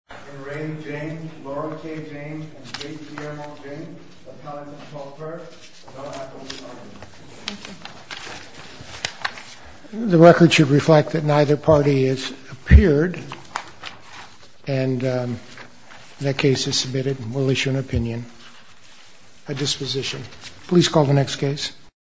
In re James, Laura K. James and J.T. Emerald James, Appellants 12-3rd and 11-Apple, New York. Thank you. The record should reflect that neither party has appeared, and that case is submitted. We'll issue an opinion. A disposition. Please call the next case.